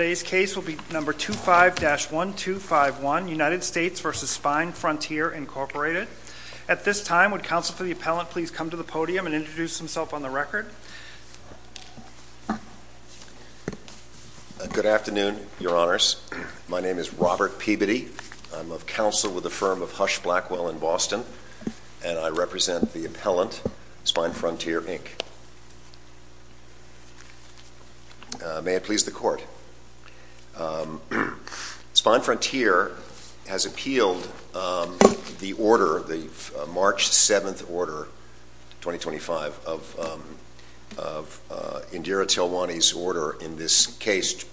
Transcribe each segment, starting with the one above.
At this time, would counsel for the appellant please come to the podium and introduce himself on the record? Good afternoon, Your Honors. My name is Robert Peabody. I'm of counsel with the firm of Hush Blackwell in Boston, and I represent the appellant, SpineFrontier, Inc. May it please the Court, SpineFrontier has appealed the March 7, 2025, of Indira Tilwani's order in this case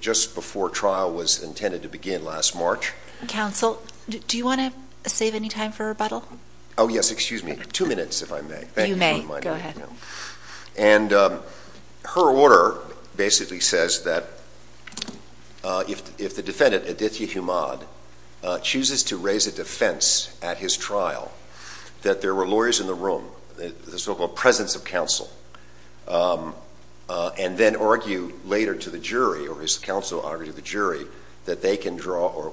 just before trial was intended to begin last March. Counsel, do you want to save any time for rebuttal? Oh, yes. Excuse me. Two minutes, if I may. Thank you for reminding me. And her order basically says that if the defendant, Aditya Humad, chooses to raise a defense at his trial, that there were lawyers in the room, the so-called presence of counsel, and then argue later to the jury, or his counsel argue to the jury, that they can draw, or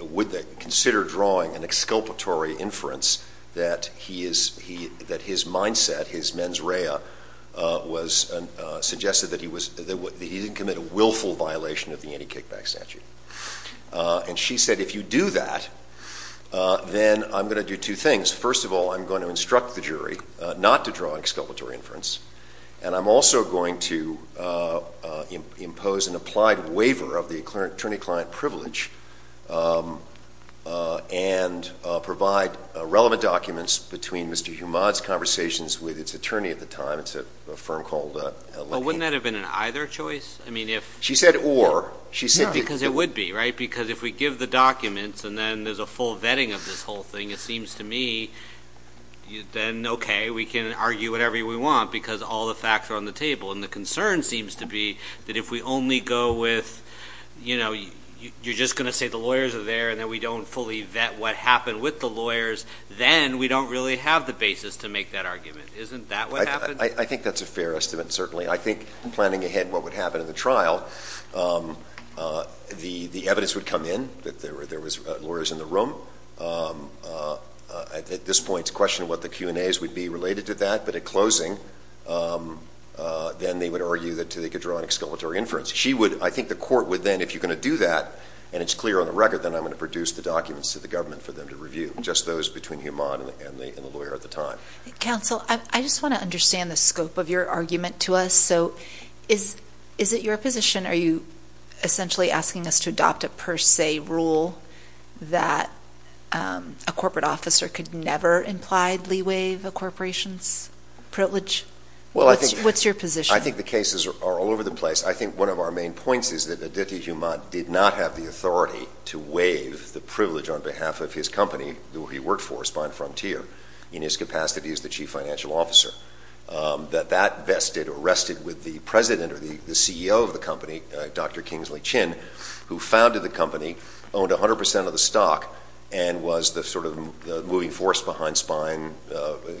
would they consider drawing an exculpatory inference that his mindset, his mens rea, was suggested that he didn't commit a willful violation of the anti-kickback statute. And she said, if you do that, then I'm going to do two things. First of all, I'm going to instruct the jury not to draw an exculpatory inference, and I'm also going to impose an applied waiver of the attorney-client privilege, and provide relevant documents between Mr. Humad's conversations with his attorney at the time, it's a firm called Lenny. But wouldn't that have been an either choice? She said or. Yeah, because it would be, right? Because if we give the documents, and then there's a full vetting of this whole thing, it seems to me, then okay, we can argue whatever we want, because all the facts are on the And the concern seems to be that if we only go with, you know, you're just going to say the lawyers are there, and then we don't fully vet what happened with the lawyers, then we don't really have the basis to make that argument. Isn't that what happened? I think that's a fair estimate, certainly. I think planning ahead what would happen in the trial, the evidence would come in that there were lawyers in the room, at this point, to question what the Q&As would be related to that, but at closing, then they would argue that they could draw an exculpatory inference. She would, I think the court would then, if you're going to do that, and it's clear on the record, then I'm going to produce the documents to the government for them to review, just those between Humad and the lawyer at the time. Counsel, I just want to understand the scope of your argument to us, so is it your position, are you essentially asking us to adopt a per se rule that a corporate officer could never impliedly waive a corporation's privilege? What's your position? I think the cases are all over the place. I think one of our main points is that Aditya Humad did not have the authority to waive the privilege on behalf of his company, who he worked for, Spine Frontier, in his capacity as the chief financial officer. That that vested or rested with the president or the CEO of the company, Dr. Kingsley Chin, who founded the company, owned 100% of the stock, and was the sort of moving force behind Spine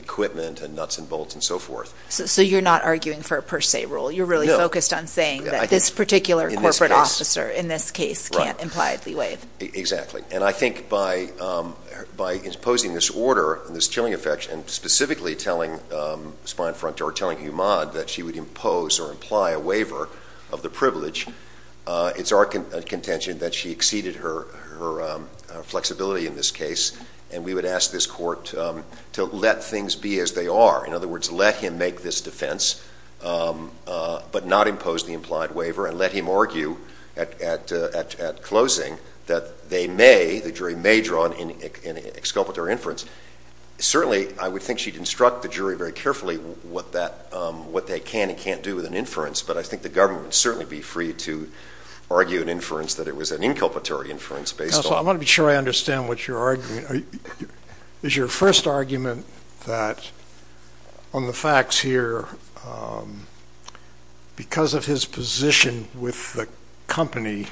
equipment and nuts and bolts and so forth. So you're not arguing for a per se rule, you're really focused on saying that this particular corporate officer, in this case, can't impliedly waive. Exactly. And I think by imposing this order, this chilling effect, and specifically telling Spine Frontier, telling Humad that she would impose or imply a waiver of the privilege, it's our contention that she exceeded her flexibility in this case, and we would ask this court to let things be as they are. In other words, let him make this defense, but not impose the implied waiver, and let him argue at closing that they may, the jury may, draw an exculpatory inference. Certainly I would think she'd instruct the jury very carefully what they can and can't do with an inference, but I think the government would certainly be free to argue an inference that it was an inculpatory inference based on... Counsel, I want to be sure I understand what you're arguing. Is your first argument that, on the facts here, because of his position with the company,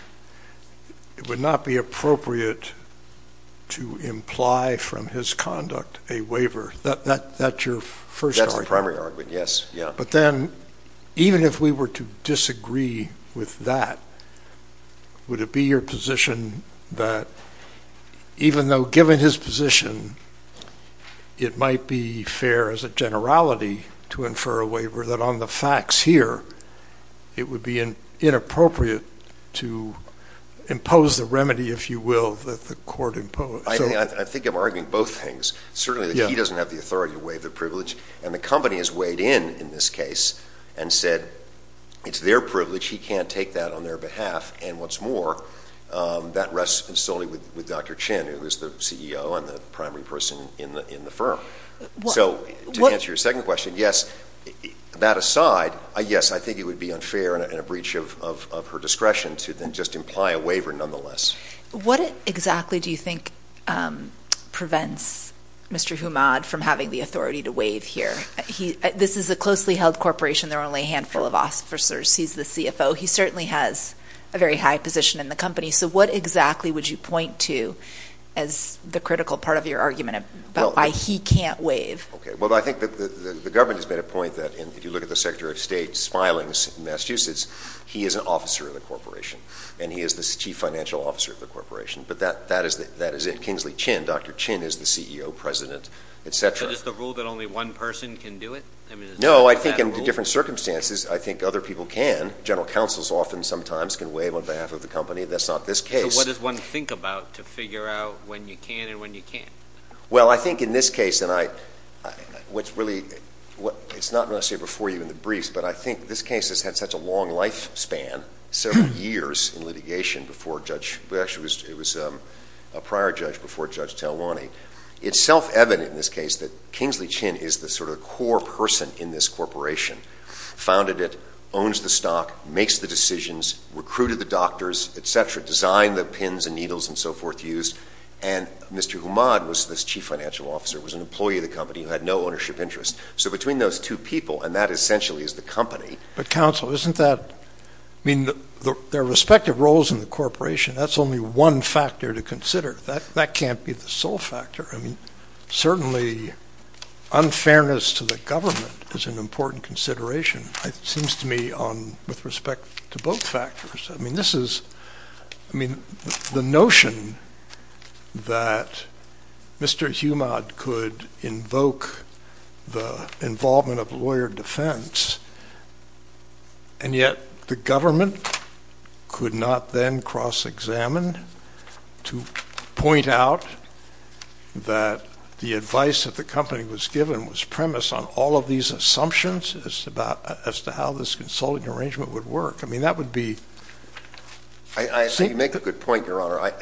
it would not be appropriate to imply from his conduct a waiver? That's your first argument? That's the primary argument, yes. But then, even if we were to disagree with that, would it be your position that, even though, given his position, it might be fair as a generality to infer a waiver, that on the facts here, it would be inappropriate to impose the remedy, if you will, that the court imposed? I think I'm arguing both things, certainly that he doesn't have the authority to waive the privilege, and the company has weighed in, in this case, and said it's their privilege, he can't take that on their behalf, and what's more, that rests solely with Dr. Chin, who is the CEO and the primary person in the firm. So to answer your second question, yes, that aside, yes, I think it would be unfair and a breach of her discretion to then just imply a waiver, nonetheless. What exactly do you think prevents Mr. Humad from having the authority to waive here? This is a closely held corporation, there are only a handful of officers, he's the CFO, he certainly has a very high position in the company, so what exactly would you point to as the critical part of your argument about why he can't waive? Well, I think the government has made a point that if you look at the Secretary of State Smilings in Massachusetts, he is an officer of the corporation, and he is the chief financial officer of the corporation, but that is it, Kingsley Chin, Dr. Chin is the CEO, president, etc. So just the rule that only one person can do it? No, I think in different circumstances, I think other people can, general counsels often sometimes can waive on behalf of the company, that's not this case. So what does one think about to figure out when you can and when you can't? Well I think in this case, and it's not necessary before you in the briefs, but I think this case has had such a long lifespan, several years in litigation before Judge, well actually it was a prior judge before Judge Talwani, it's self-evident in this case that Kingsley Chin is the sort of core person in this corporation, founded it, owns the stock, makes the decisions, recruited the doctors, etc., designed the pins and needles and so forth used, and Mr. Humad was this chief financial officer, was an employee of the company who had no ownership interest. So between those two people, and that essentially is the company. But counsel, isn't that, I mean, their respective roles in the corporation, that's only one factor to consider, that can't be the sole factor, I mean, certainly unfairness to the government is an important consideration, it seems to me, with respect to both factors. I mean, this is, I mean, the notion that Mr. Humad could invoke the involvement of lawyer defense, and yet the government could not then cross-examine to point out that the advice that the company was given was premised on all of these assumptions as to how this consulting arrangement would work. I mean, that would be... So you make a good point, Your Honor,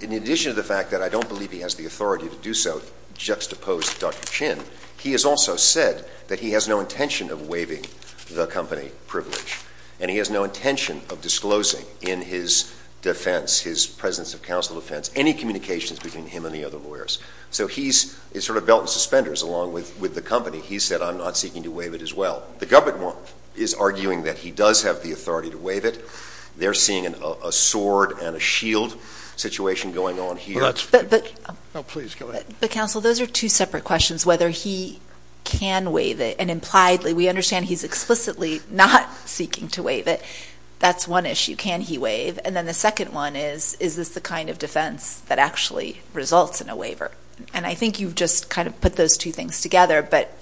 in addition to the fact that I don't believe he has the authority to do so, juxtapose Dr. Chin, he has also said that he has no intention of waiving the company privilege, and he has no intention of disclosing in his defense, his presence of counsel defense, any communications between him and the other lawyers. So he's sort of belt and suspenders along with the company, he said, I'm not seeking to waive it as well. The government is arguing that he does have the authority to waive it, they're seeing a sword and a shield situation going on here. But, counsel, those are two separate questions, whether he can waive it, and impliedly, we understand he's explicitly not seeking to waive it, that's one issue, can he waive? And then the second one is, is this the kind of defense that actually results in a waiver? And I think you've just kind of put those two things together, but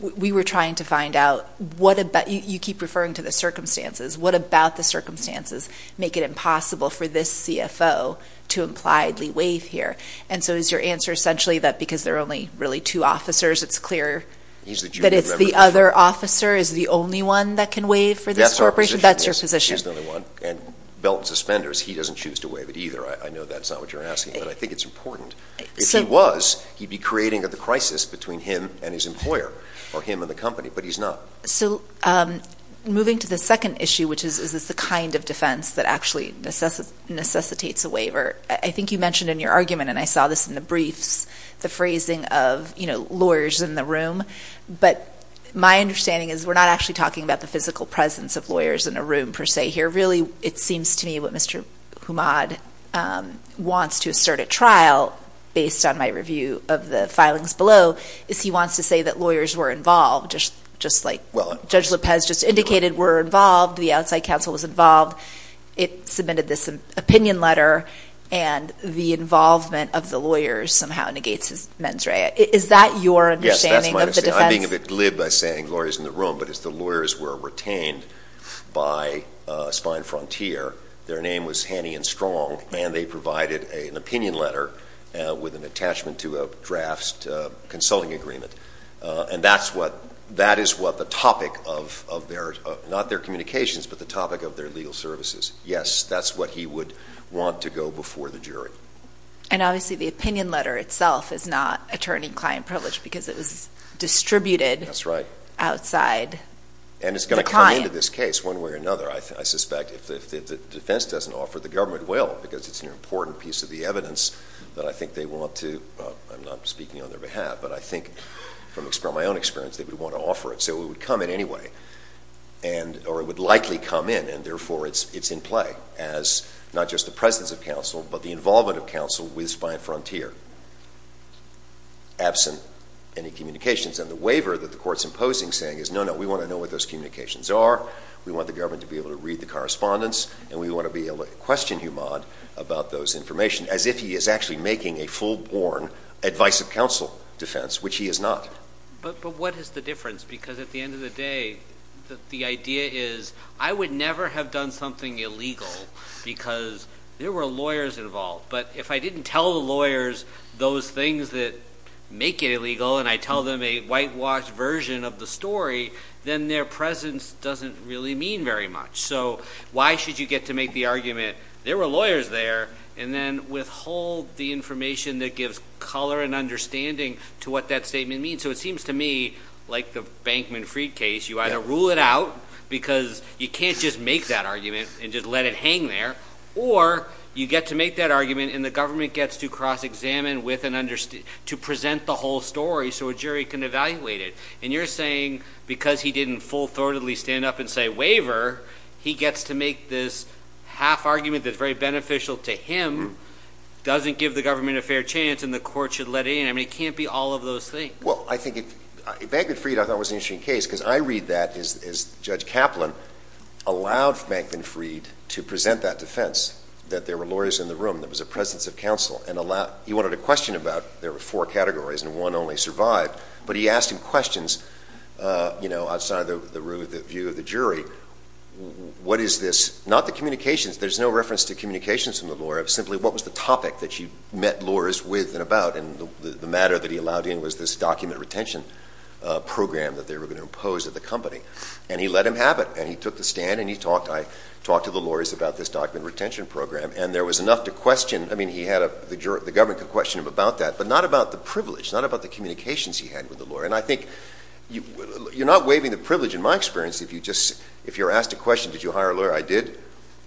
we were trying to find out what about... You keep referring to the circumstances, what about the circumstances make it impossible for this CFO to impliedly waive here? And so is your answer essentially that because there are only really two officers, it's clear that it's the other officer is the only one that can waive for this corporation? That's your position. Well, if he's the only one and belt and suspenders, he doesn't choose to waive it either. I know that's not what you're asking, but I think it's important. If he was, he'd be creating the crisis between him and his employer, or him and the company, but he's not. So moving to the second issue, which is, is this the kind of defense that actually necessitates a waiver? I think you mentioned in your argument, and I saw this in the briefs, the phrasing of lawyers in the room, but my understanding is we're not actually talking about the physical presence of lawyers in a room per se here. Really, it seems to me what Mr. Humad wants to assert at trial, based on my review of the filings below, is he wants to say that lawyers were involved, just like Judge Lopez just indicated, were involved, the outside counsel was involved. It submitted this opinion letter, and the involvement of the lawyers somehow negates his mens rea. Is that your understanding of the defense? Yes, that's my understanding. I'm being a bit glib by saying lawyers in the room, but as the lawyers were retained by Spine Frontier, their name was Haney and Strong, and they provided an opinion letter with an attachment to a draft consulting agreement, and that is what the topic of their, not their communications, but the topic of their legal services. Yes, that's what he would want to go before the jury. And obviously, the opinion letter itself is not attorney-client privilege because it was distributed outside the client. And it's going to come into this case one way or another. I suspect if the defense doesn't offer it, the government will because it's an important piece of the evidence that I think they want to, I'm not speaking on their behalf, but I think from my own experience, they would want to offer it. So it would come in anyway, or it would likely come in, and therefore it's in play as not just the presence of counsel, but the involvement of counsel with Spine Frontier, absent any communications. And the waiver that the court's imposing saying is, no, no, we want to know what those communications are. We want the government to be able to read the correspondence, and we want to be able to question Humad about those information, as if he is actually making a full-born advice of counsel defense, which he is not. But what is the difference? Because at the end of the day, the idea is, I would never have done something illegal because there were lawyers involved, but if I didn't tell the lawyers those things that make it illegal, and I tell them a whitewashed version of the story, then their presence doesn't really mean very much. So why should you get to make the argument, there were lawyers there, and then withhold the information that gives color and understanding to what that statement means? So it seems to me, like the Bankman Freed case, you either rule it out because you can't just make that argument and just let it hang there, or you get to make that argument and the government gets to cross-examine with and understand, to present the whole story so a jury can evaluate it. And you're saying because he didn't full-thoroughly stand up and say, waiver, he gets to make this half-argument that's very beneficial to him, doesn't give the government a fair chance and the court should let it in. I mean, it can't be all of those things. Well, I think, Bankman Freed, I thought, was an interesting case, because I read that as Judge Kaplan allowed Bankman Freed to present that defense, that there were lawyers in the defense of counsel, and he wanted to question about, there were four categories and one only survived, but he asked him questions, you know, outside of the view of the jury, what is this? Not the communications, there's no reference to communications from the lawyer, simply what was the topic that you met lawyers with and about, and the matter that he allowed in was this document retention program that they were going to impose at the company. And he let him have it. And he took the stand and he talked, I talked to the lawyers about this document retention program and there was enough to question, I mean, he had a, the government could question him about that, but not about the privilege, not about the communications he had with the lawyer. And I think, you're not waiving the privilege, in my experience, if you just, if you're asked a question, did you hire a lawyer? I did.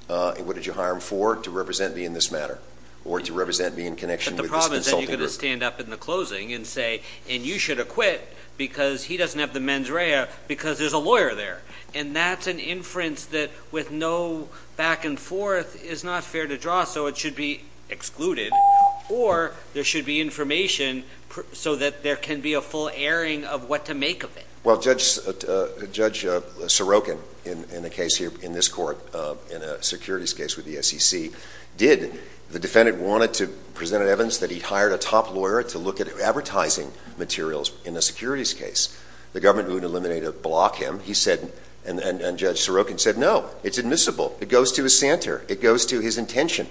And what did you hire him for? To represent me in this matter, or to represent me in connection with this consulting group. But the problem is that you're going to stand up in the closing and say, and you should acquit because he doesn't have the mens rea because there's a lawyer there. And that's an inference that with no back and forth is not fair to draw, so it should be excluded, or there should be information so that there can be a full airing of what to make of it. Well, Judge Sorokin, in a case here, in this court, in a securities case with the SEC did, the defendant wanted to present evidence that he hired a top lawyer to look at advertising materials in a securities case. The government wouldn't eliminate or block him. He said, and Judge Sorokin said, no, it's admissible. It goes to his center. It goes to his intention.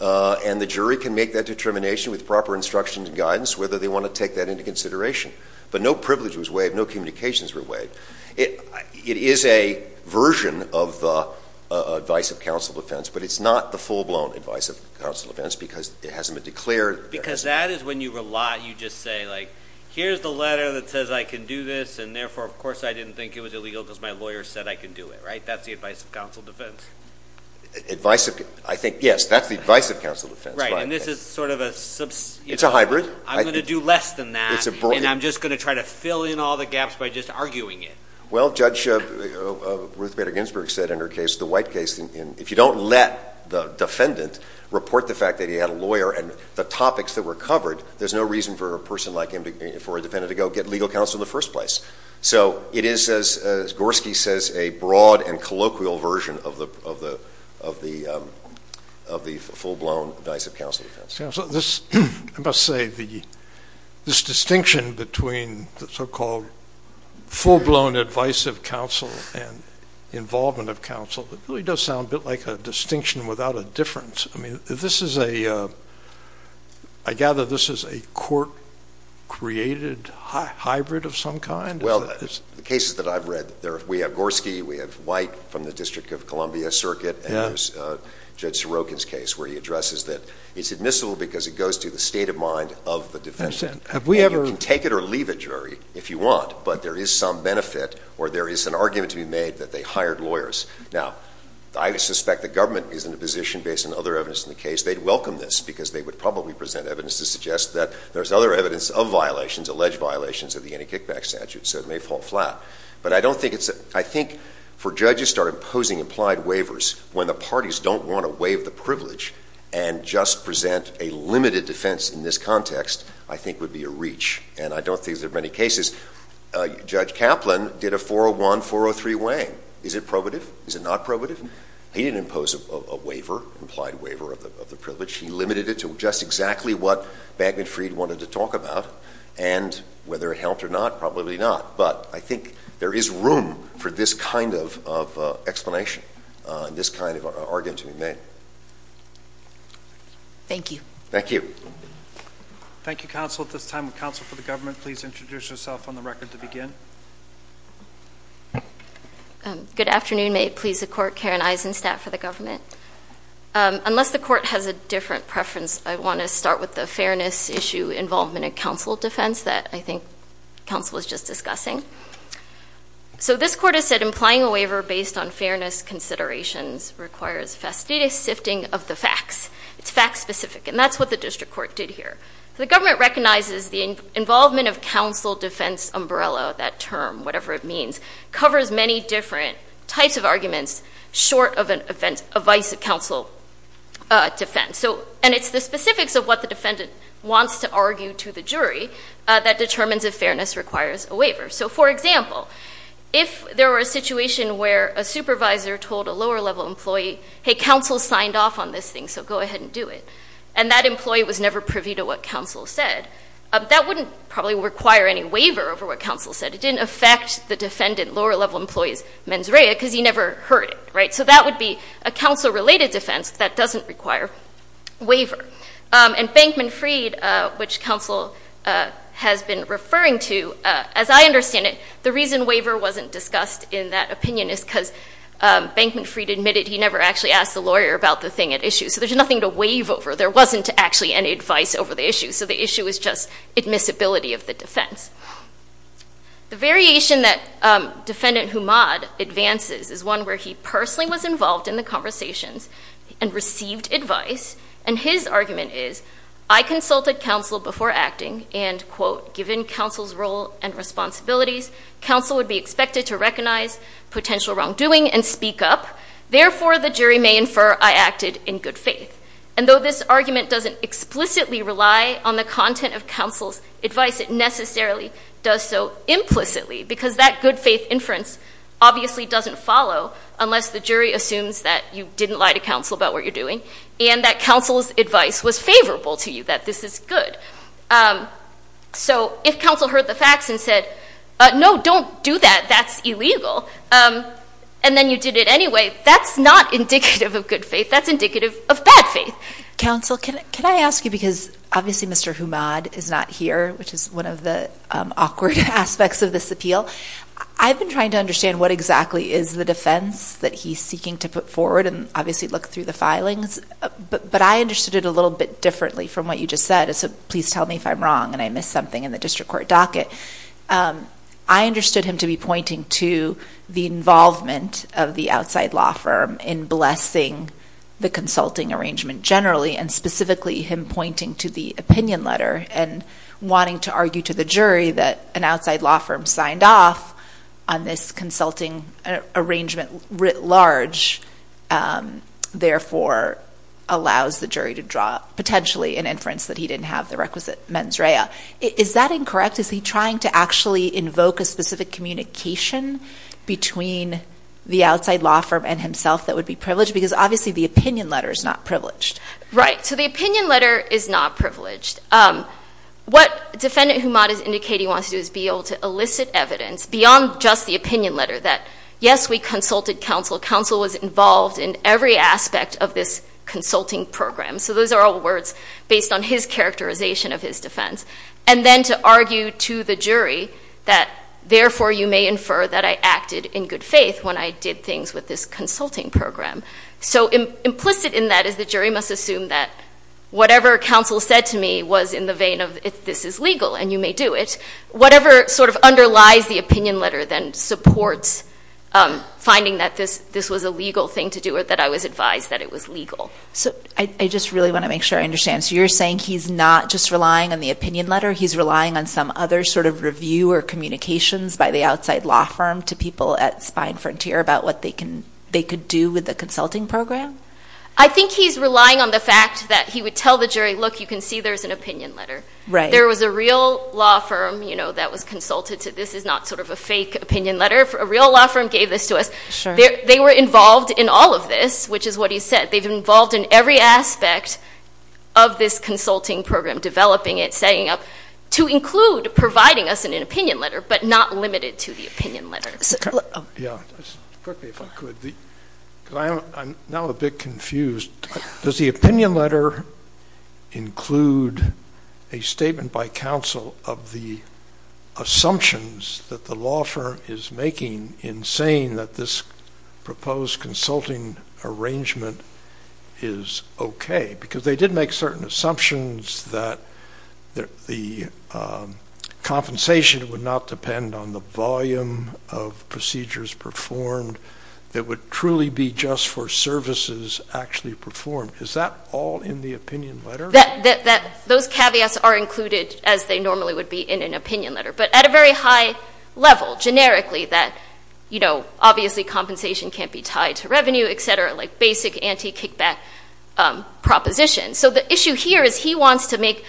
And the jury can make that determination with proper instructions and guidance whether they want to take that into consideration. But no privilege was waived. No communications were waived. It is a version of the advice of counsel defense, but it's not the full-blown advice of counsel defense because it hasn't been declared. Because that is when you rely, you just say, like, here's the letter that says I can do this, and therefore, of course, I didn't think it was illegal because my lawyer said I can do it. Right? That's the advice of counsel defense. Advice of, I think, yes, that's the advice of counsel defense. Right. And this is sort of a, you know, I'm going to do less than that, and I'm just going to try to fill in all the gaps by just arguing it. Well, Judge Ruth Bader Ginsburg said in her case, the white case, if you don't let the defendant report the fact that he had a lawyer and the topics that were covered, there's no reason for a person like him, for a defendant to go get legal counsel in the first place. So it is, as Gorski says, a broad and colloquial version of the full-blown advice of counsel defense. So this, I must say, this distinction between the so-called full-blown advice of counsel and involvement of counsel, it really does sound a bit like a distinction without a difference. I mean, this is a, I gather this is a court-created hybrid of some kind? Well, the cases that I've read, we have Gorski, we have White from the District of Columbia Circuit, and there's Judge Sorokin's case where he addresses that it's admissible because it goes to the state of mind of the defendant. And you can take it or leave it, jury, if you want, but there is some benefit or there is an argument to be made that they hired lawyers. Now, I suspect the government is in a position, based on other evidence in the case, they'd welcome this because they would probably present evidence to suggest that there's other evidence of violations, alleged violations, of the Anti-Kickback Statute, so it may fall flat. But I don't think it's, I think for judges to start imposing implied waivers when the parties don't want to waive the privilege and just present a limited defense in this context, I think would be a reach. And I don't think there are many cases, Judge Kaplan did a 401-403 way. Is it probative? Is it not probative? He didn't impose a waiver, implied waiver of the privilege. He limited it to just exactly what Bagman-Freed wanted to talk about, and whether it helped or not, probably not. But I think there is room for this kind of explanation, this kind of argument to be made. Thank you. Thank you. Thank you, counsel. At this time, would counsel for the government please introduce yourself on the record to begin? Good afternoon. May it please the court, Karen Eisenstat for the government. Unless the court has a different preference, I want to start with the fairness issue involvement in counsel defense that I think counsel was just discussing. So this court has said implying a waiver based on fairness considerations requires fastidious sifting of the facts. It's fact specific, and that's what the district court did here. The government recognizes the involvement of counsel defense umbrella, that term, whatever it means, covers many different types of arguments short of a vice counsel defense. And it's the specifics of what the defendant wants to argue to the jury that determines if fairness requires a waiver. So for example, if there were a situation where a supervisor told a lower level employee, hey, counsel signed off on this thing, so go ahead and do it. And that employee was never privy to what counsel said, that wouldn't probably require any waiver over what counsel said. It didn't affect the defendant, lower level employee's mens rea, because he never heard it, right? So that would be a counsel related defense that doesn't require waiver. And Bankman Freed, which counsel has been referring to, as I understand it, the reason waiver wasn't discussed in that opinion is because Bankman Freed admitted he never actually asked the lawyer about the thing at issue. So there's nothing to waive over. There wasn't actually any advice over the issue. So the issue is just admissibility of the defense. The variation that Defendant Humad advances is one where he personally was involved in the conversations and received advice. And his argument is, I consulted counsel before acting and, quote, given counsel's role and responsibilities, counsel would be expected to recognize potential wrongdoing and speak up. Therefore, the jury may infer I acted in good faith. And though this argument doesn't explicitly rely on the content of counsel's advice, it necessarily does so implicitly, because that good faith inference obviously doesn't follow unless the jury assumes that you didn't lie to counsel about what you're doing and that counsel's advice was favorable to you, that this is good. So if counsel heard the facts and said, no, don't do that, that's illegal, and then you did it anyway, that's not indicative of good faith. That's indicative of bad faith. Counsel, can I ask you, because obviously Mr. Humad is not here, which is one of the awkward aspects of this appeal. I've been trying to understand what exactly is the defense that he's seeking to put forward and obviously look through the filings, but I understood it a little bit differently from what you just said. It's a please tell me if I'm wrong and I missed something in the district court docket. I understood him to be pointing to the involvement of the outside law firm in blessing the consulting arrangement generally, and specifically him pointing to the opinion letter and wanting to argue to the jury that an outside law firm signed off on this consulting arrangement writ large, therefore allows the jury to draw potentially an inference that he didn't have the requisite mens rea. Is that incorrect? Is he trying to actually invoke a specific communication between the outside law firm and himself that would be privileged? Because obviously the opinion letter is not privileged. Right. So the opinion letter is not privileged. What defendant Humad is indicating he wants to do is be able to elicit evidence beyond just the opinion letter that, yes, we consulted counsel, counsel was involved in every aspect of this consulting program. So those are all words based on his characterization of his defense. And then to argue to the jury that therefore you may infer that I acted in good faith when I did things with this consulting program. So implicit in that is the jury must assume that whatever counsel said to me was in the vein of if this is legal and you may do it. Whatever sort of underlies the opinion letter then supports finding that this was a legal thing to do or that I was advised that it was legal. So I just really want to make sure I understand. So you're saying he's not just relying on the opinion letter. He's relying on some other sort of review or communications by the outside law firm to people at Spine Frontier about what they can, they could do with the consulting program? I think he's relying on the fact that he would tell the jury, look, you can see there's an opinion letter. Right. There was a real law firm, you know, that was consulted to this is not sort of a fake opinion letter. A real law firm gave this to us. They were involved in all of this, which is what he said. They've been involved in every aspect of this consulting program, developing it, setting up to include providing us an opinion letter, but not limited to the opinion letter. Yeah. Quickly, if I could, because I'm now a bit confused, does the opinion letter include a statement by counsel of the assumptions that the law firm is making in saying that this proposed consulting arrangement is okay? Because they did make certain assumptions that the compensation would not depend on the volume of procedures performed. It would truly be just for services actually performed. Is that all in the opinion letter? Those caveats are included as they normally would be in an opinion letter, but at a very high level, generically, that, you know, obviously compensation can't be tied to revenue, et cetera, like basic anti-kickback propositions. So the issue here is he wants to make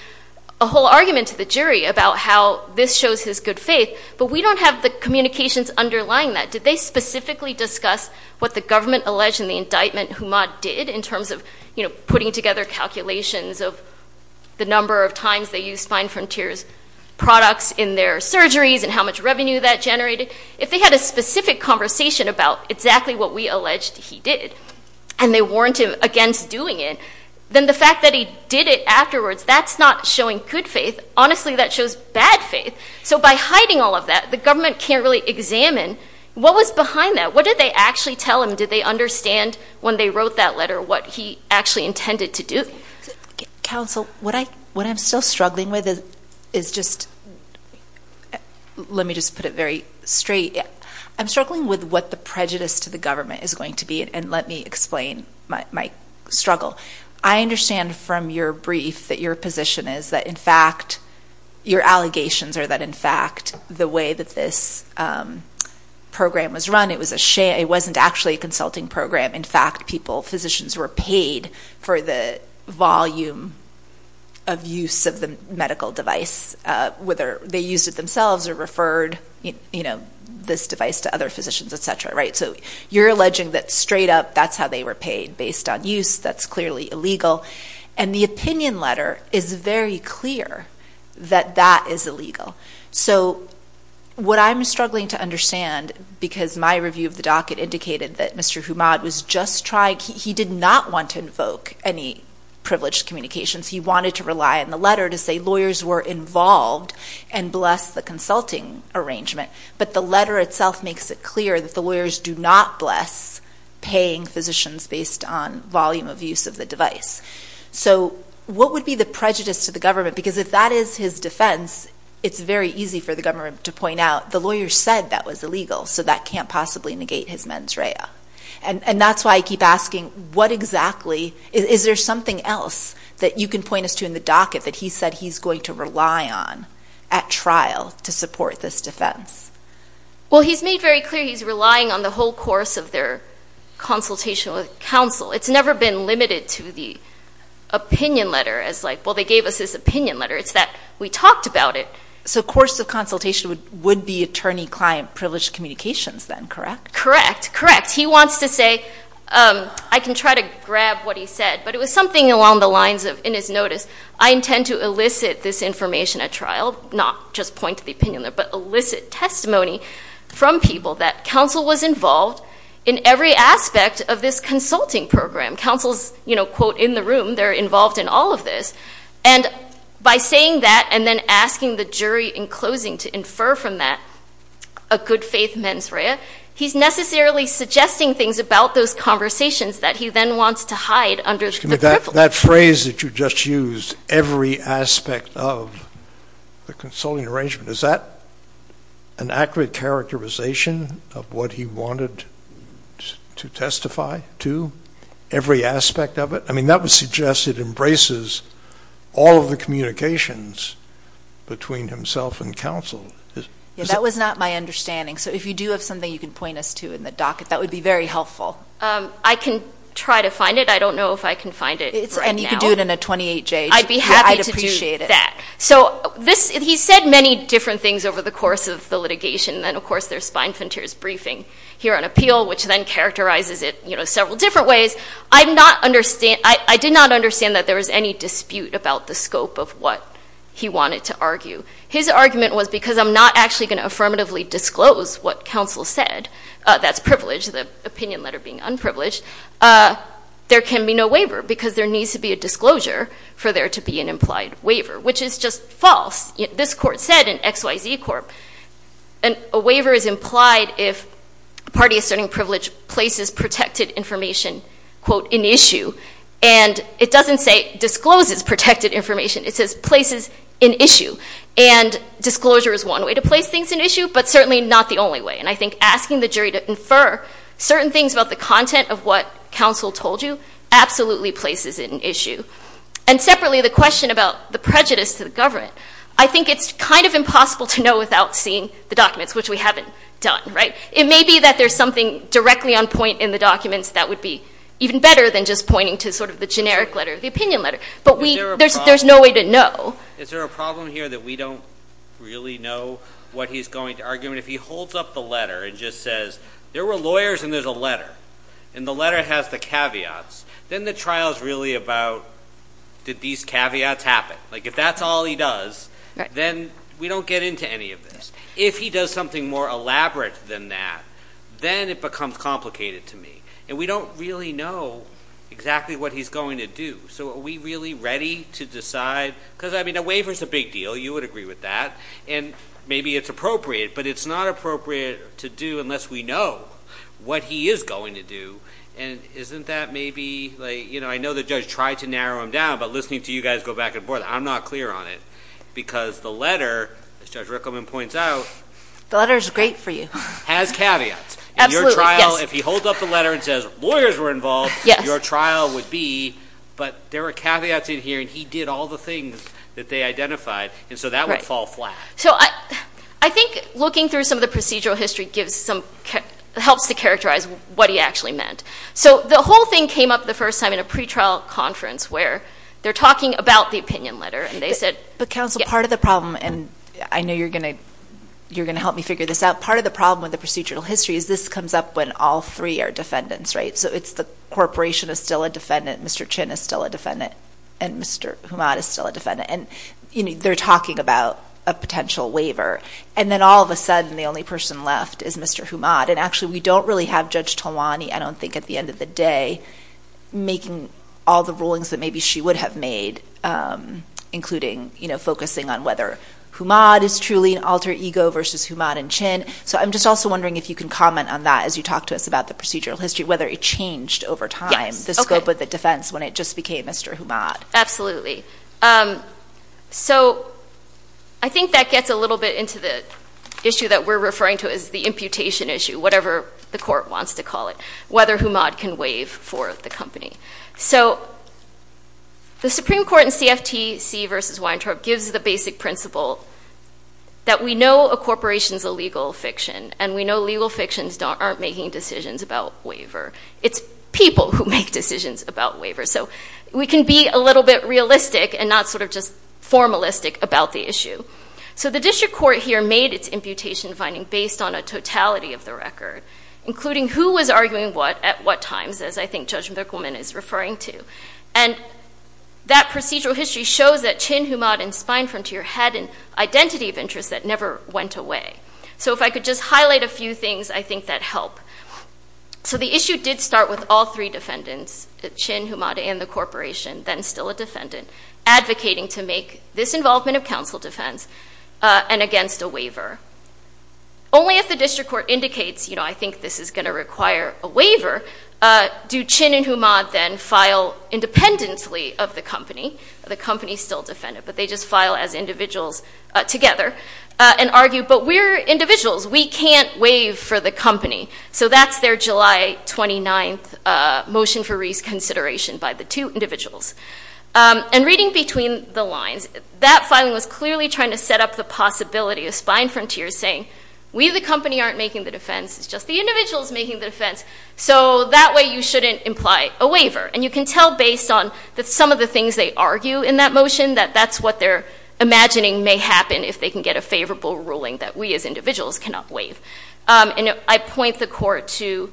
a whole argument to the jury about how this shows his good faith, but we don't have the communications underlying that. Did they specifically discuss what the government alleged in the indictment Humad did in terms of, you know, putting together calculations of the number of times they used Fine Frontiers products in their surgeries and how much revenue that generated? If they had a specific conversation about exactly what we alleged he did, and they warned him against doing it, then the fact that he did it afterwards, that's not showing good faith. Honestly, that shows bad faith. So by hiding all of that, the government can't really examine what was behind that. What did they actually tell him? Did they understand when they wrote that letter what he actually intended to do? Counsel, what I'm still struggling with is just, let me just put it very straight. I'm struggling with what the prejudice to the government is going to be, and let me explain my struggle. I understand from your brief that your position is that, in fact, your allegations are that, in fact, the way that this program was run, it wasn't actually a consulting program. In fact, physicians were paid for the volume of use of the medical device, whether they used it themselves or referred this device to other physicians, et cetera, right? So you're alleging that, straight up, that's how they were paid, based on use. That's clearly illegal. And the opinion letter is very clear that that is illegal. So what I'm struggling to understand, because my review of the docket indicated that Mr. Umad was just trying, he did not want to invoke any privileged communications. He wanted to rely on the letter to say lawyers were involved and bless the consulting arrangement. But the letter itself makes it clear that the lawyers do not bless paying physicians based on volume of use of the device. So what would be the prejudice to the government? Because if that is his defense, it's very easy for the government to point out, the lawyer said that was illegal, so that can't possibly negate his mens rea. And that's why I keep asking, what exactly, is there something else that you can point us to in the docket that he said he's going to rely on at trial to support this defense? Well, he's made very clear he's relying on the whole course of their consultation with It's never been limited to the opinion letter as like, well, they gave us this opinion letter. It's that we talked about it. So course of consultation would be attorney-client privileged communications then, correct? Correct, correct. He wants to say, I can try to grab what he said, but it was something along the lines of, in his notice, I intend to elicit this information at trial, not just point to the opinion letter, but elicit testimony from people that counsel was involved in every aspect of this consulting program. Counsel's, you know, quote, in the room, they're involved in all of this. And by saying that, and then asking the jury in closing to infer from that, a good faith mens rea, he's necessarily suggesting things about those conversations that he then wants to hide under the briffle. That phrase that you just used, every aspect of the consulting arrangement, is that an accurate characterization of what he wanted to testify to? Every aspect of it? I mean, that would suggest it embraces all of the communications between himself and counsel. Yeah, that was not my understanding. So if you do have something you can point us to in the docket, that would be very helpful. I can try to find it. I don't know if I can find it right now. And you can do it in a 28-J. I'd be happy to do that. So this, he said many different things over the course of the litigation, and of course there's Spine Frontier's briefing here on appeal, which then characterizes it several different ways. I did not understand that there was any dispute about the scope of what he wanted to argue. His argument was, because I'm not actually going to affirmatively disclose what counsel said, that's privilege, the opinion letter being unprivileged, there can be no waiver, because there needs to be a disclosure for there to be an implied waiver, which is just false. This court said in XYZ Corp., a waiver is implied if a party of certain privilege places protected information, quote, in issue. And it doesn't say discloses protected information. It says places in issue. And disclosure is one way to place things in issue, but certainly not the only way. And I think asking the jury to infer certain things about the content of what counsel told you absolutely places it in issue. And separately, the question about the prejudice to the government, I think it's kind of impossible to know without seeing the documents, which we haven't done, right? It may be that there's something directly on point in the documents that would be even better than just pointing to sort of the generic letter, the opinion letter, but there's no way to know. Is there a problem here that we don't really know what he's going to argue? And if he holds up the letter and just says, there were lawyers and there's a letter, and the letter has the caveats, then the trial is really about, did these caveats happen? Like if that's all he does, then we don't get into any of this. If he does something more elaborate than that, then it becomes complicated to me. And we don't really know exactly what he's going to do. So are we really ready to decide, because, I mean, a waiver's a big deal. You would agree with that. And maybe it's appropriate, but it's not appropriate to do unless we know what he is going to do. And isn't that maybe, like, you know, I know the judge tried to narrow him down, but listening to you guys go back and forth, I'm not clear on it. Because the letter, as Judge Rickleman points out. The letter's great for you. Has caveats. Absolutely, yes. Your trial, if he holds up the letter and says, lawyers were involved, your trial would be, but there were caveats in here, and he did all the things that they identified, and so that would fall flat. So I think looking through some of the procedural history gives some, helps to characterize what he actually meant. So the whole thing came up the first time in a pretrial conference where they're talking about the opinion letter, and they said, but counsel, part of the problem, and I know you're going to, you're going to help me figure this out. Part of the problem with the procedural history is this comes up when all three are defendants, right? So it's the corporation is still a defendant, Mr. Chin is still a defendant, and Mr. Humad is still a defendant. And, you know, they're talking about a potential waiver. And then all of a sudden, the only person left is Mr. Humad. And actually, we don't really have Judge Tolwani, I don't think, at the end of the day, making all the rulings that maybe she would have made, including, you know, focusing on whether Humad is truly an alter ego versus Humad and Chin. So I'm just also wondering if you can comment on that as you talk to us about the procedural history, whether it changed over time, the scope of the defense when it just became Mr. Humad. So I think that gets a little bit into the issue that we're referring to as the imputation issue, whatever the court wants to call it, whether Humad can waive for the company. So the Supreme Court in CFTC versus Weintraub gives the basic principle that we know a corporation is a legal fiction, and we know legal fictions aren't making decisions about waiver. It's people who make decisions about waiver. So we can be a little bit realistic and not sort of just formalistic about the issue. So the district court here made its imputation finding based on a totality of the record, including who was arguing what at what times, as I think Judge McWomen is referring to. And that procedural history shows that Chin, Humad, and Spinefrontier had an identity of interest that never went away. So if I could just highlight a few things, I think that'd help. So the issue did start with all three defendants, Chin, Humad, and the corporation, then still a defendant, advocating to make this involvement of counsel defense and against a waiver. Only if the district court indicates, you know, I think this is going to require a waiver, do Chin and Humad then file independently of the company. The company's still defendant, but they just file as individuals together and argue, but we're individuals. We can't waive for the company. So that's their July 29th motion for reconsideration by the two individuals. And reading between the lines, that filing was clearly trying to set up the possibility of Spinefrontier saying, we the company aren't making the defense, it's just the individuals making the defense, so that way you shouldn't imply a waiver. And you can tell based on some of the things they argue in that motion that that's what they're imagining may happen if they can get a favorable ruling that we as individuals cannot waive. And I point the court to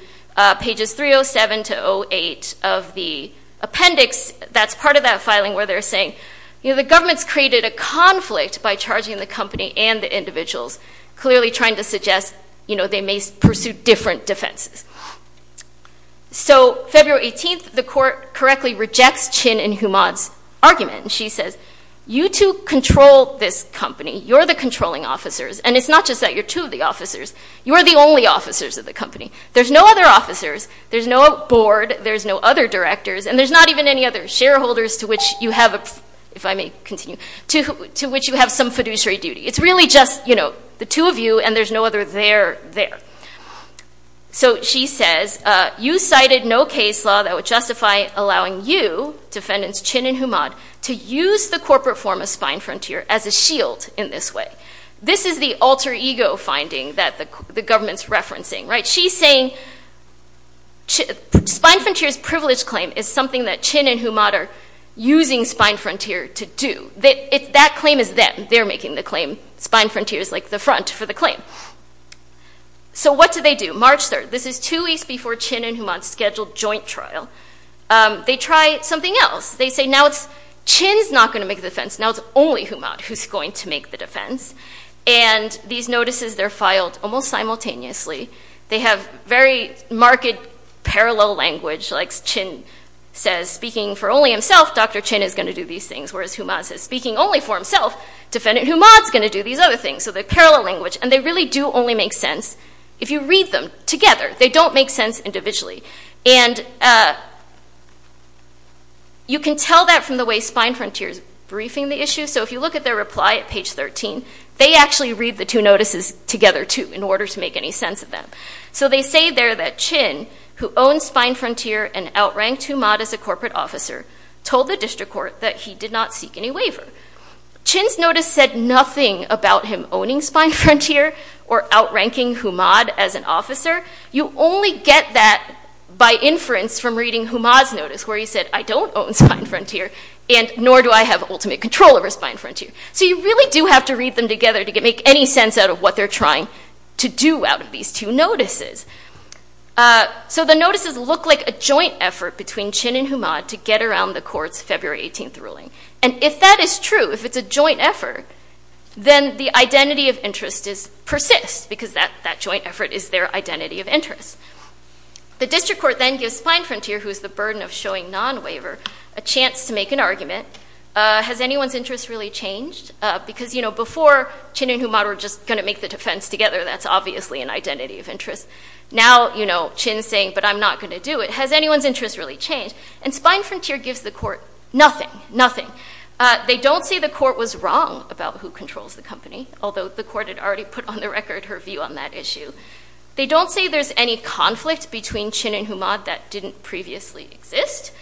pages 307 to 08 of the appendix that's part of that filing where they're saying, you know, the government's created a conflict by charging the company and the individuals, clearly trying to suggest, you know, they may pursue different defenses. So February 18th, the court correctly rejects Chin and Humad's argument. She says, you two control this company. You're the controlling officers. And it's not just that you're two of the officers, you are the only officers of the company. There's no other officers, there's no board, there's no other directors, and there's not even any other shareholders to which you have, if I may continue, to which you have some fiduciary duty. It's really just, you know, the two of you and there's no other there there. So she says, you cited no case law that would justify allowing you, defendants Chin and Humad, to use the corporate form of Spinefrontier as a shield in this way. This is the alter ego finding that the government's referencing, right? She's saying Spinefrontier's privilege claim is something that Chin and Humad are using Spinefrontier to do. That claim is them. They're making the claim. Spinefrontier is like the front for the claim. So what do they do? March 3rd, this is two weeks before Chin and Humad's scheduled joint trial. They try something else. They say now it's Chin's not going to make the defense, now it's only Humad who's going to make the defense. And these notices, they're filed almost simultaneously. They have very marked parallel language, like Chin says, speaking for only himself, Dr. Chin is going to do these things, whereas Humad says, speaking only for himself, defendant Humad's going to do these other things. So the parallel language. And they really do only make sense if you read them together. They don't make sense individually. And you can tell that from the way Spinefrontier's briefing the issue. So if you look at their reply at page 13, they actually read the two notices together too in order to make any sense of them. So they say there that Chin, who owns Spinefrontier and outranked Humad as a corporate officer, told the district court that he did not seek any waiver. Chin's notice said nothing about him owning Spinefrontier or outranking Humad as an officer. You only get that by inference from reading Humad's notice, where he said, I don't own Spinefrontier, and nor do I have ultimate control over Spinefrontier. So you really do have to read them together to make any sense out of what they're trying to do out of these two notices. So the notices look like a joint effort between Chin and Humad to get around the court's February 18th ruling. And if that is true, if it's a joint effort, then the identity of interest persists, because that joint effort is their identity of interest. The district court then gives Spinefrontier, who is the burden of showing non-waiver, a chance to make an argument. Has anyone's interest really changed? Because before, Chin and Humad were just going to make the defense together. That's obviously an identity of interest. Now Chin's saying, but I'm not going to do it. Has anyone's interest really changed? And Spinefrontier gives the court nothing, nothing. They don't say the court was wrong about who controls the company, although the court had already put on the record her view on that issue. They don't say there's any conflict between Chin and Humad that didn't previously exist.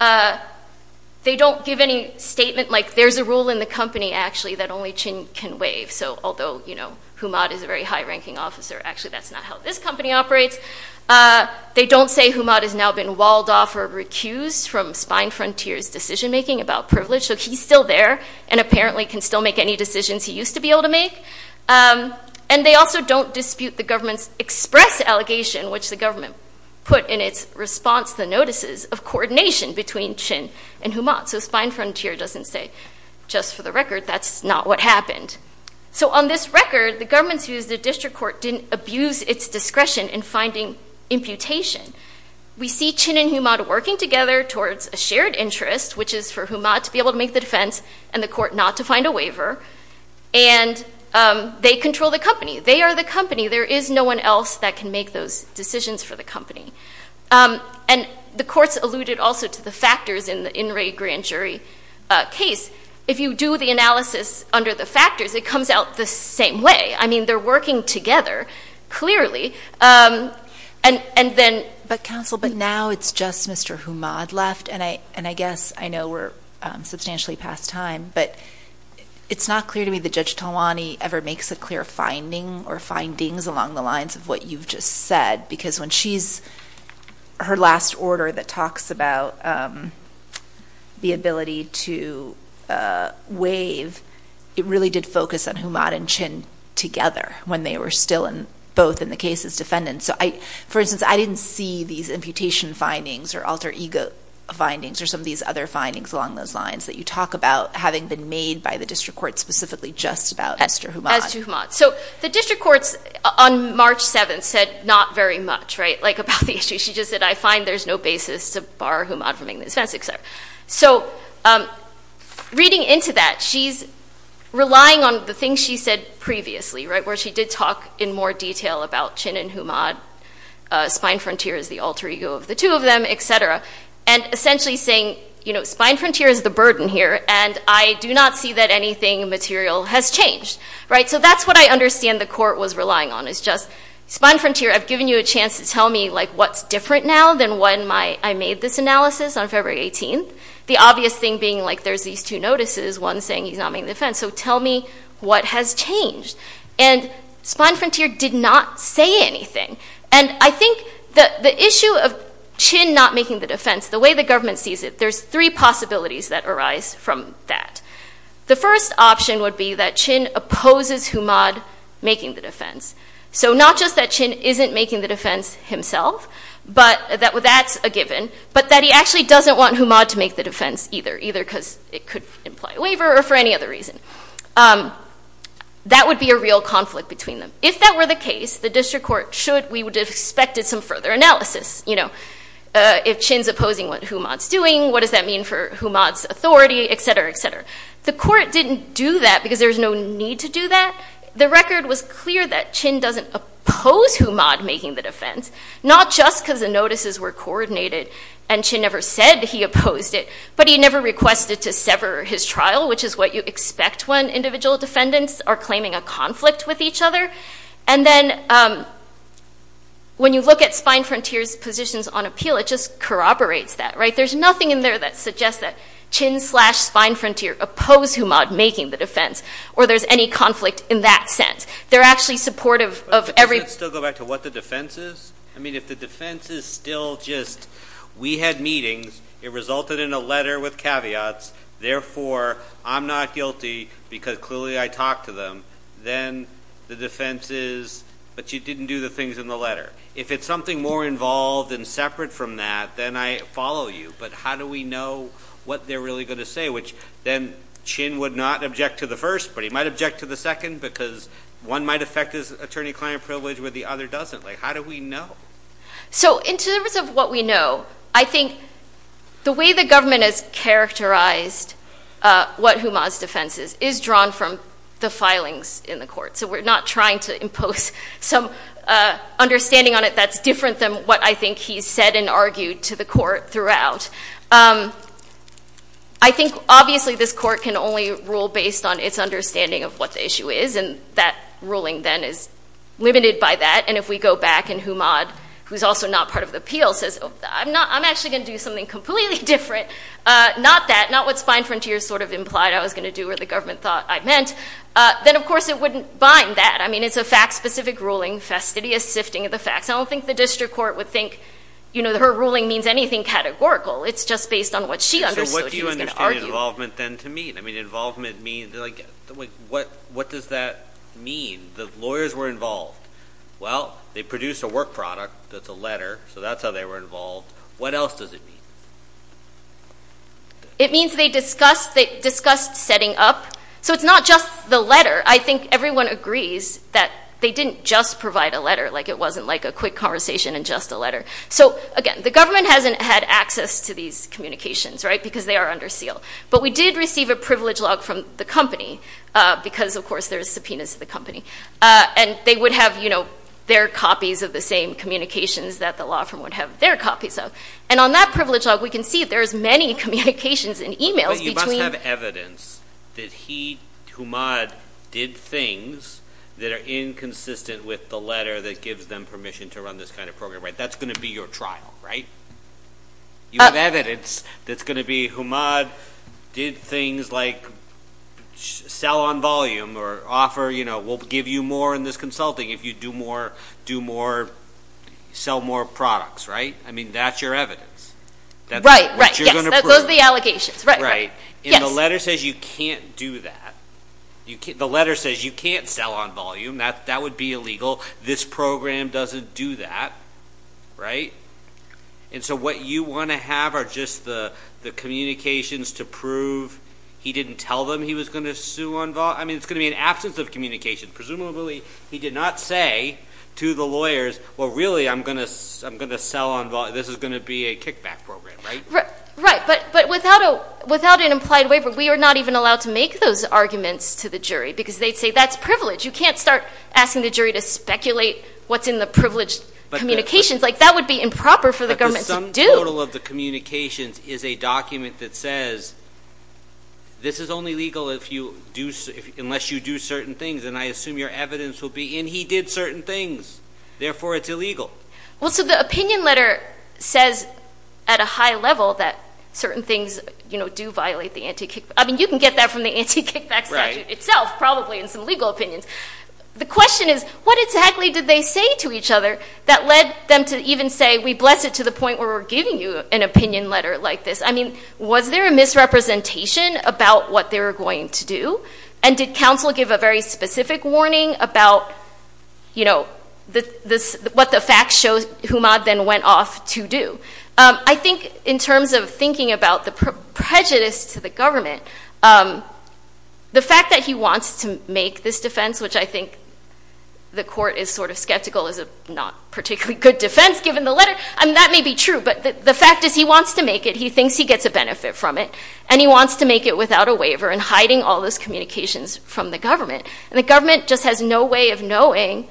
They don't give any statement, like there's a rule in the company, actually, that only Chin can waive. So although Humad is a very high-ranking officer, actually that's not how this company operates. They don't say Humad has now been walled off or recused from Spinefrontier's decision-making about privilege. So he's still there and apparently can still make any decisions he used to be able to make. And they also don't dispute the government's express allegation, which the government put in its response, the notices of coordination between Chin and Humad. So Spinefrontier doesn't say, just for the record, that's not what happened. So on this record, the government's views, the district court didn't abuse its discretion in finding imputation. We see Chin and Humad working together towards a shared interest, which is for Humad to be able to make the defense and the court not to find a waiver. And they control the company. They are the company. There is no one else that can make those decisions for the company. And the courts alluded also to the factors in the In re Grand Jury case. If you do the analysis under the factors, it comes out the same way. I mean, they're working together, clearly. And then- But counsel, but now it's just Mr. Humad left, and I guess I know we're substantially past time, but it's not clear to me that Judge Talwani ever makes a clear finding or findings along the lines of what you've just said. Because when she's, her last order that talks about the ability to waive, it really did focus on Humad and Chin together when they were still both in the case as defendants. So I, for instance, I didn't see these imputation findings or alter ego findings or some of these other findings along those lines that you talk about having been made by the district court specifically just about Mr. Humad. As to Humad. So the district courts on March 7th said not very much, right, like about the issue. She just said, I find there's no basis to bar Humad from being the defense, et cetera. So reading into that, she's relying on the things she said previously, right, where she did talk in more detail about Chin and Humad, spine frontier is the alter ego of the two of them, et cetera, and essentially saying, you know, spine frontier is the burden here and I do not see that anything material has changed, right? So that's what I understand the court was relying on is just spine frontier, I've given you a chance to tell me like what's different now than when my, I made this analysis on February 18th. The obvious thing being like there's these two notices, one saying he's not making defense. So tell me what has changed. And spine frontier did not say anything. And I think the issue of Chin not making the defense, the way the government sees it, there's three possibilities that arise from that. The first option would be that Chin opposes Humad making the defense. So not just that Chin isn't making the defense himself, but that's a given, but that he actually doesn't want Humad to make the defense either, either because it could imply a waiver or for any other reason. That would be a real conflict between them. If that were the case, the district court should, we would have expected some further analysis, you know, if Chin's opposing what Humad's doing, what does that mean for Humad's authority, et cetera, et cetera. The court didn't do that because there's no need to do that. The record was clear that Chin doesn't oppose Humad making the defense, not just because the notices were coordinated and Chin never said he opposed it, but he never requested to sever his trial, which is what you expect when individual defendants are claiming a conflict with each other. And then when you look at Spine Frontier's positions on appeal, it just corroborates that, right? There's nothing in there that suggests that Chin slash Spine Frontier oppose Humad making the defense, or there's any conflict in that sense. They're actually supportive of every- But doesn't it still go back to what the defense is? I mean, if the defense is still just, we had meetings, it resulted in a letter with caveats, therefore I'm not guilty because clearly I talked to them, then the defense is, but you didn't do the things in the letter. If it's something more involved and separate from that, then I follow you, but how do we know what they're really going to say, which then Chin would not object to the first, but he might object to the second because one might affect his attorney-client privilege where the other doesn't. Like, how do we know? So in terms of what we know, I think the way the government has characterized what Humad's defense is, is drawn from the filings in the court. So we're not trying to impose some understanding on it that's different than what I think he's said and argued to the court throughout. I think obviously this court can only rule based on its understanding of what the issue is, and that ruling then is limited by that, and if we go back and Humad, who's also not part of the appeal, says, I'm actually going to do something completely different, not that, not what Spine Frontiers sort of implied I was going to do or the government thought I meant, then of course it wouldn't bind that. I mean, it's a fact-specific ruling, fastidious sifting of the facts. I don't think the district court would think, you know, her ruling means anything categorical. It's just based on what she understood he was going to argue. I mean, what does that mean? The lawyers were involved. Well, they produced a work product that's a letter, so that's how they were involved. What else does it mean? It means they discussed setting up. So it's not just the letter. I think everyone agrees that they didn't just provide a letter, like it wasn't like a quick conversation and just a letter. So again, the government hasn't had access to these communications, right, because they are under seal. But we did receive a privilege log from the company because, of course, there's subpoenas to the company. And they would have, you know, their copies of the same communications that the law firm would have their copies of. And on that privilege log, we can see there's many communications and e-mails between. But you must have evidence that he, Humad, did things that are inconsistent with the letter that gives them permission to run this kind of program, right? That's going to be your trial, right? You have evidence that's going to be, Humad did things like sell on volume or offer, you know, we'll give you more in this consulting if you do more, do more, sell more products, right? I mean, that's your evidence. Right, right. That's what you're going to prove. Yes. Those are the allegations. Right, right. Yes. And the letter says you can't do that. The letter says you can't sell on volume. That would be illegal. This program doesn't do that, right? And so what you want to have are just the communications to prove he didn't tell them he was going to sue on volume. I mean, it's going to be an absence of communication. Presumably, he did not say to the lawyers, well, really, I'm going to sell on volume. This is going to be a kickback program, right? Right. But without an implied waiver, we are not even allowed to make those arguments to the jury because they'd say that's privilege. You can't start asking the jury to speculate what's in the privileged communications. That would be improper for the government to do. But the sum total of the communications is a document that says this is only legal unless you do certain things. And I assume your evidence will be, and he did certain things, therefore it's illegal. Well, so the opinion letter says at a high level that certain things do violate the anti-kickback. I mean, you can get that from the anti-kickback statute itself, probably, in some legal opinions. The question is, what exactly did they say to each other that led them to even say, we bless it to the point where we're giving you an opinion letter like this? I mean, was there a misrepresentation about what they were going to do? And did counsel give a very specific warning about, you know, what the fact shows Humad then went off to do? I think in terms of thinking about the prejudice to the government, the fact that he wants to make this defense, which I think the court is sort of skeptical is a not particularly good defense given the letter. I mean, that may be true, but the fact is he wants to make it. He thinks he gets a benefit from it, and he wants to make it without a waiver and hiding all those communications from the government. And the government just has no way of knowing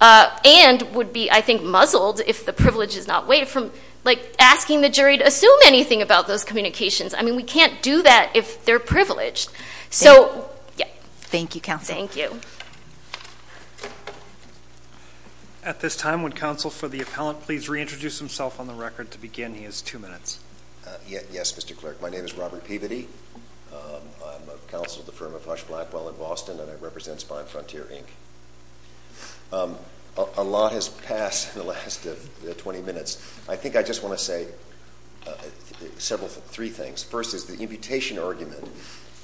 and would be, I think, muzzled if the privilege is not weighed from, like, asking the jury to assume anything about those communications. I mean, we can't do that if they're privileged. So yeah. Okay. Thank you, counsel. Thank you. At this time, would counsel for the appellant please reintroduce himself on the record to begin? He has two minutes. Yes, Mr. Clerk. My name is Robert Peabody. I'm a counsel at the firm of Hush Blackwell in Boston, and I represent Spine Frontier Inc. A lot has passed in the last 20 minutes. I think I just want to say several, three things. First is the imputation argument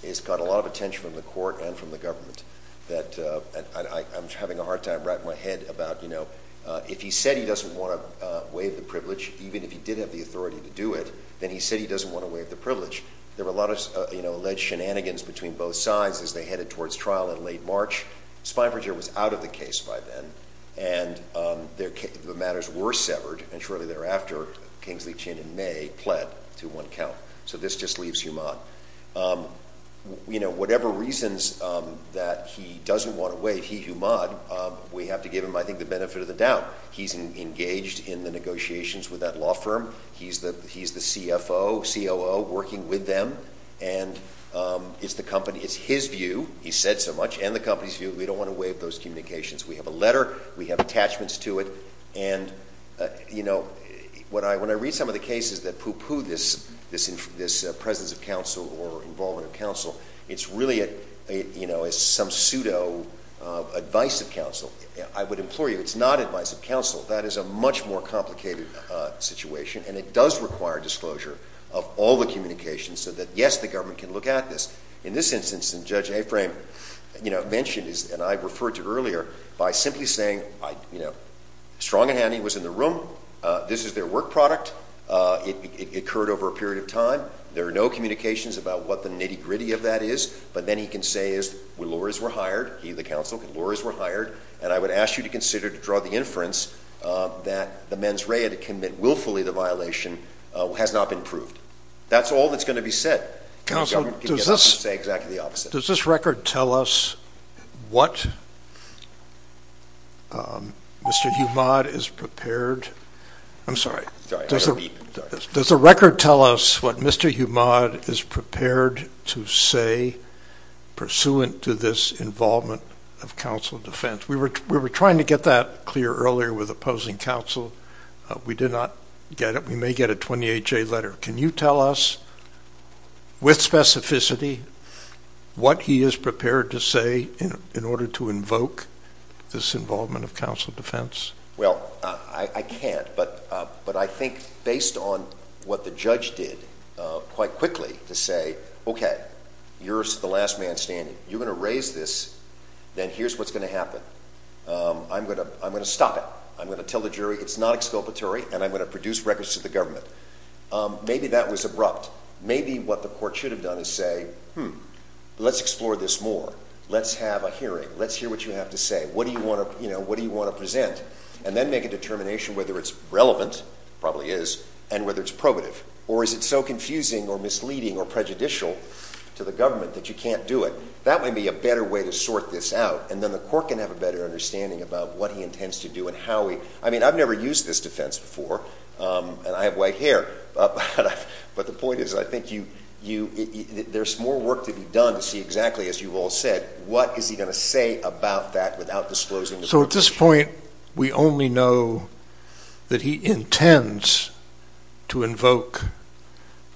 has got a lot of attention from the court and from the government that I'm having a hard time wrapping my head about, you know, if he said he doesn't want to waive the privilege, even if he did have the authority to do it, then he said he doesn't want to waive the privilege. There were a lot of, you know, alleged shenanigans between both sides as they headed towards trial in late March. Spine Frontier was out of the case by then, and the matters were severed, and shortly thereafter Kingsley, Chin, and May pled to one count. So this just leaves Humad. You know, whatever reasons that he doesn't want to waive, he, Humad, we have to give him, I think, the benefit of the doubt. He's engaged in the negotiations with that law firm. He's the CFO, COO, working with them, and it's the company, it's his view, he said so much, and the company's view, we don't want to waive those communications. We have a letter. We have attachments to it, and, you know, when I read some of the cases that pooh-pooh this presence of counsel or involvement of counsel, it's really, you know, it's some pseudo advice of counsel. I would implore you, it's not advice of counsel. That is a much more complicated situation, and it does require disclosure of all the communications so that, yes, the government can look at this. In this instance, and Judge Aframe, you know, mentioned, and I referred to earlier, by simply saying, you know, strong and handy was in the room. This is their work product. It occurred over a period of time. There are no communications about what the nitty-gritty of that is, but then he can say, as the lawyers were hired, he, the counsel, the lawyers were hired, and I would ask you to consider to draw the inference that the mens rea to commit willfully the violation has not been proved. That's all that's going to be said. The government can get up and say exactly the opposite. Does this record tell us what Mr. Humad is prepared to say pursuant to this involvement of counsel defense? We were trying to get that clear earlier with opposing counsel. We did not get it. We may get a 28-J letter. Can you tell us with specificity what he is prepared to say in order to invoke this involvement of counsel defense? Well, I can't, but I think based on what the judge did quite quickly to say, okay, you're the last man standing. You're going to raise this, then here's what's going to happen. I'm going to stop it. I'm going to tell the jury it's not exculpatory, and I'm going to produce records to the government. Maybe that was abrupt. Maybe what the court should have done is say, hmm, let's explore this more. Let's have a hearing. Let's hear what you have to say. What do you want to present? And then make a determination whether it's relevant, probably is, and whether it's probative. Or is it so confusing or misleading or prejudicial to the government that you can't do it? That might be a better way to sort this out, and then the court can have a better understanding about what he intends to do and how he... I mean, I've never used this defense before, and I have white hair, but the point is, I think there's more work to be done to see exactly, as you've all said, what is he going to say about that without disclosing the... So at this point, we only know that he intends to invoke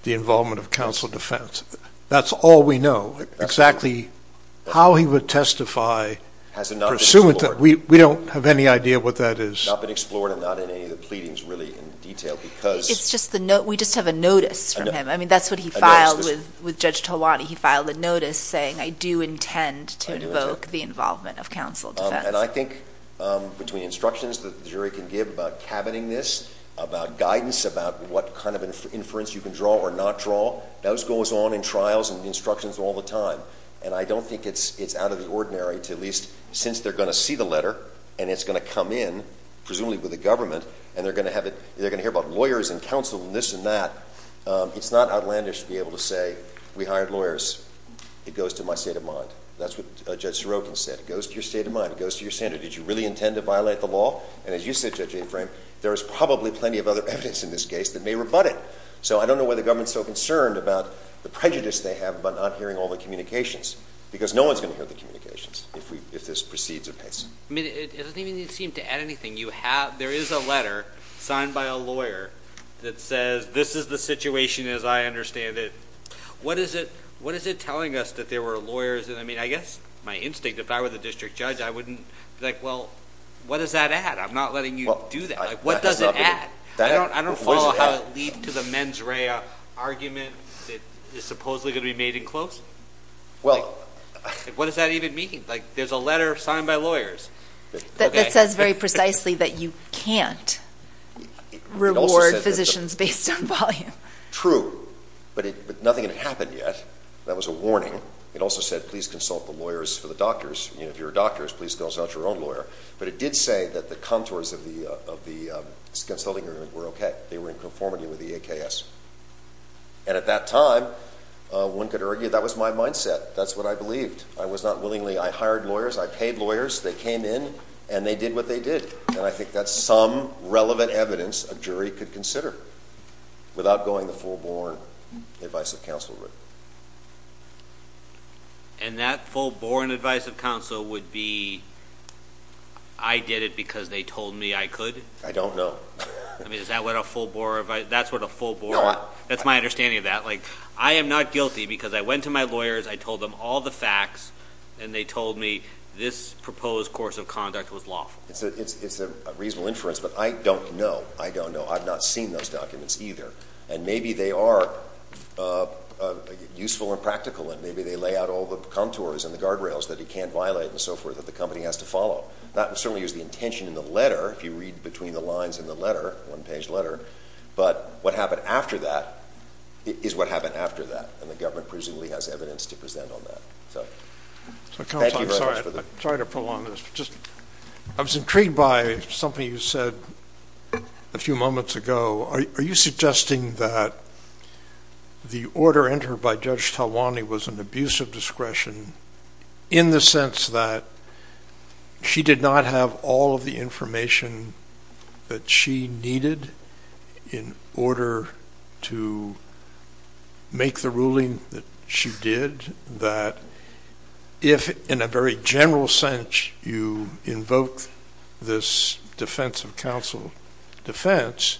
the involvement of counsel defense. That's all we know. Exactly how he would testify, we don't have any idea what that is. It's not been explored and not in any of the pleadings really in detail because... It's just the note. We just have a notice from him. I mean, that's what he filed with Judge Talwani. He filed a notice saying, I do intend to invoke the involvement of counsel defense. And I think between instructions that the jury can give about cabining this, about guidance, about what kind of inference you can draw or not draw, those goes on in trials and instructions all the time. And I don't think it's out of the ordinary to at least, since they're going to see the and it's going to come in, presumably with the government, and they're going to hear about lawyers and counsel and this and that. It's not outlandish to be able to say, we hired lawyers. It goes to my state of mind. That's what Judge Sorokin said. It goes to your state of mind. It goes to your standard. Did you really intend to violate the law? And as you said, Judge Aitken, there is probably plenty of other evidence in this case that may rebut it. So I don't know why the government's so concerned about the prejudice they have about not hearing all the communications, because no one's going to hear the communications if this proceeds I mean, it doesn't even seem to add anything. You have, there is a letter signed by a lawyer that says, this is the situation as I understand it. What is it? What is it telling us that there were lawyers? And I mean, I guess my instinct, if I were the district judge, I wouldn't like, well, what does that add? I'm not letting you do that. Like, what does it add? I don't, I don't follow how it leads to the mens rea argument that is supposedly going to be made in close. Well, what does that even mean? Like, there's a letter signed by lawyers. That says very precisely that you can't reward physicians based on volume. True. But nothing had happened yet. That was a warning. It also said, please consult the lawyers for the doctors. You know, if you're a doctor, please consult your own lawyer. But it did say that the contours of the, of the consulting room were okay. They were in conformity with the AKS. And at that time, one could argue that was my mindset. That's what I believed. I was not willingly. I hired lawyers. I paid lawyers. They came in. And they did what they did. And I think that's some relevant evidence a jury could consider without going the full-born advice of counsel route. And that full-born advice of counsel would be, I did it because they told me I could? I don't know. I mean, is that what a full-born advice, that's what a full-born, that's my understanding of that. Like, I am not guilty because I went to my lawyers. I told them all the facts and they told me this proposed course of conduct was lawful. It's a reasonable inference, but I don't know. I don't know. I've not seen those documents either. And maybe they are useful and practical, and maybe they lay out all the contours and the guardrails that he can't violate and so forth that the company has to follow. That certainly is the intention in the letter, if you read between the lines in the letter, one-page letter. But what happened after that is what happened after that. And the government presumably has evidence to present on that. So, thank you very much for the... I'm sorry to prolong this, but just, I was intrigued by something you said a few moments ago. Are you suggesting that the order entered by Judge Talwani was an abuse of discretion in the sense that she did not have all of the information that she needed in order to make the ruling that she did, that if, in a very general sense, you invoke this defense of counsel defense,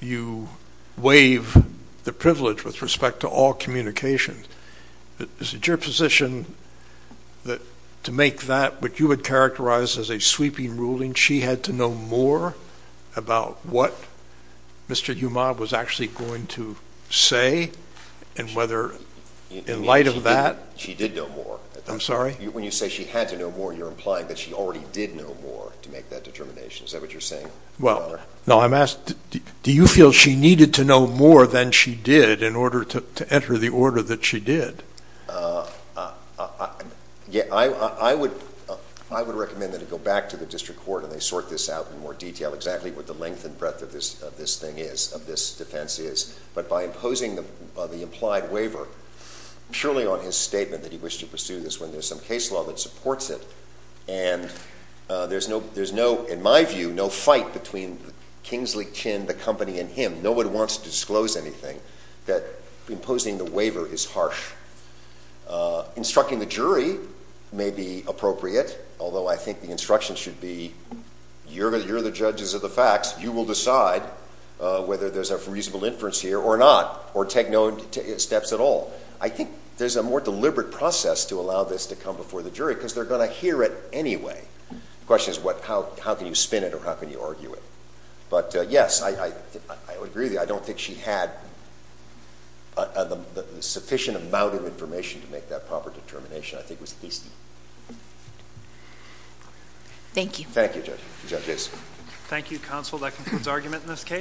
you waive the privilege with respect to all communication? Is it your position that to make that what you would characterize as a sweeping ruling, she had to know more about what Mr. Umad was actually going to say and whether, in light of that... She did know more. I'm sorry? When you say she had to know more, you're implying that she already did know more to make that determination. Is that what you're saying? Well, no. I'm asking, do you feel she needed to know more than she did in order to enter the order that she did? I would recommend that it go back to the District Court and they sort this out in more detail exactly what the length and breadth of this thing is, of this defense is. But by imposing the implied waiver, surely on his statement that he wished to pursue this when there's some case law that supports it and there's no, in my view, no fight between Kingsley Chin, the company, and him, nobody wants to disclose anything, that imposing the waiver is harsh. Instructing the jury may be appropriate, although I think the instruction should be, you're the judges of the facts, you will decide whether there's a reasonable inference here or not, or take no steps at all. I think there's a more deliberate process to allow this to come before the jury because they're going to hear it anyway. The question is, how can you spin it or how can you argue it? But yes, I would agree with you. I don't think she had a sufficient amount of information to make that proper determination. I think it was at least... Thank you. Thank you, judges. Thank you, counsel. That concludes argument in this case.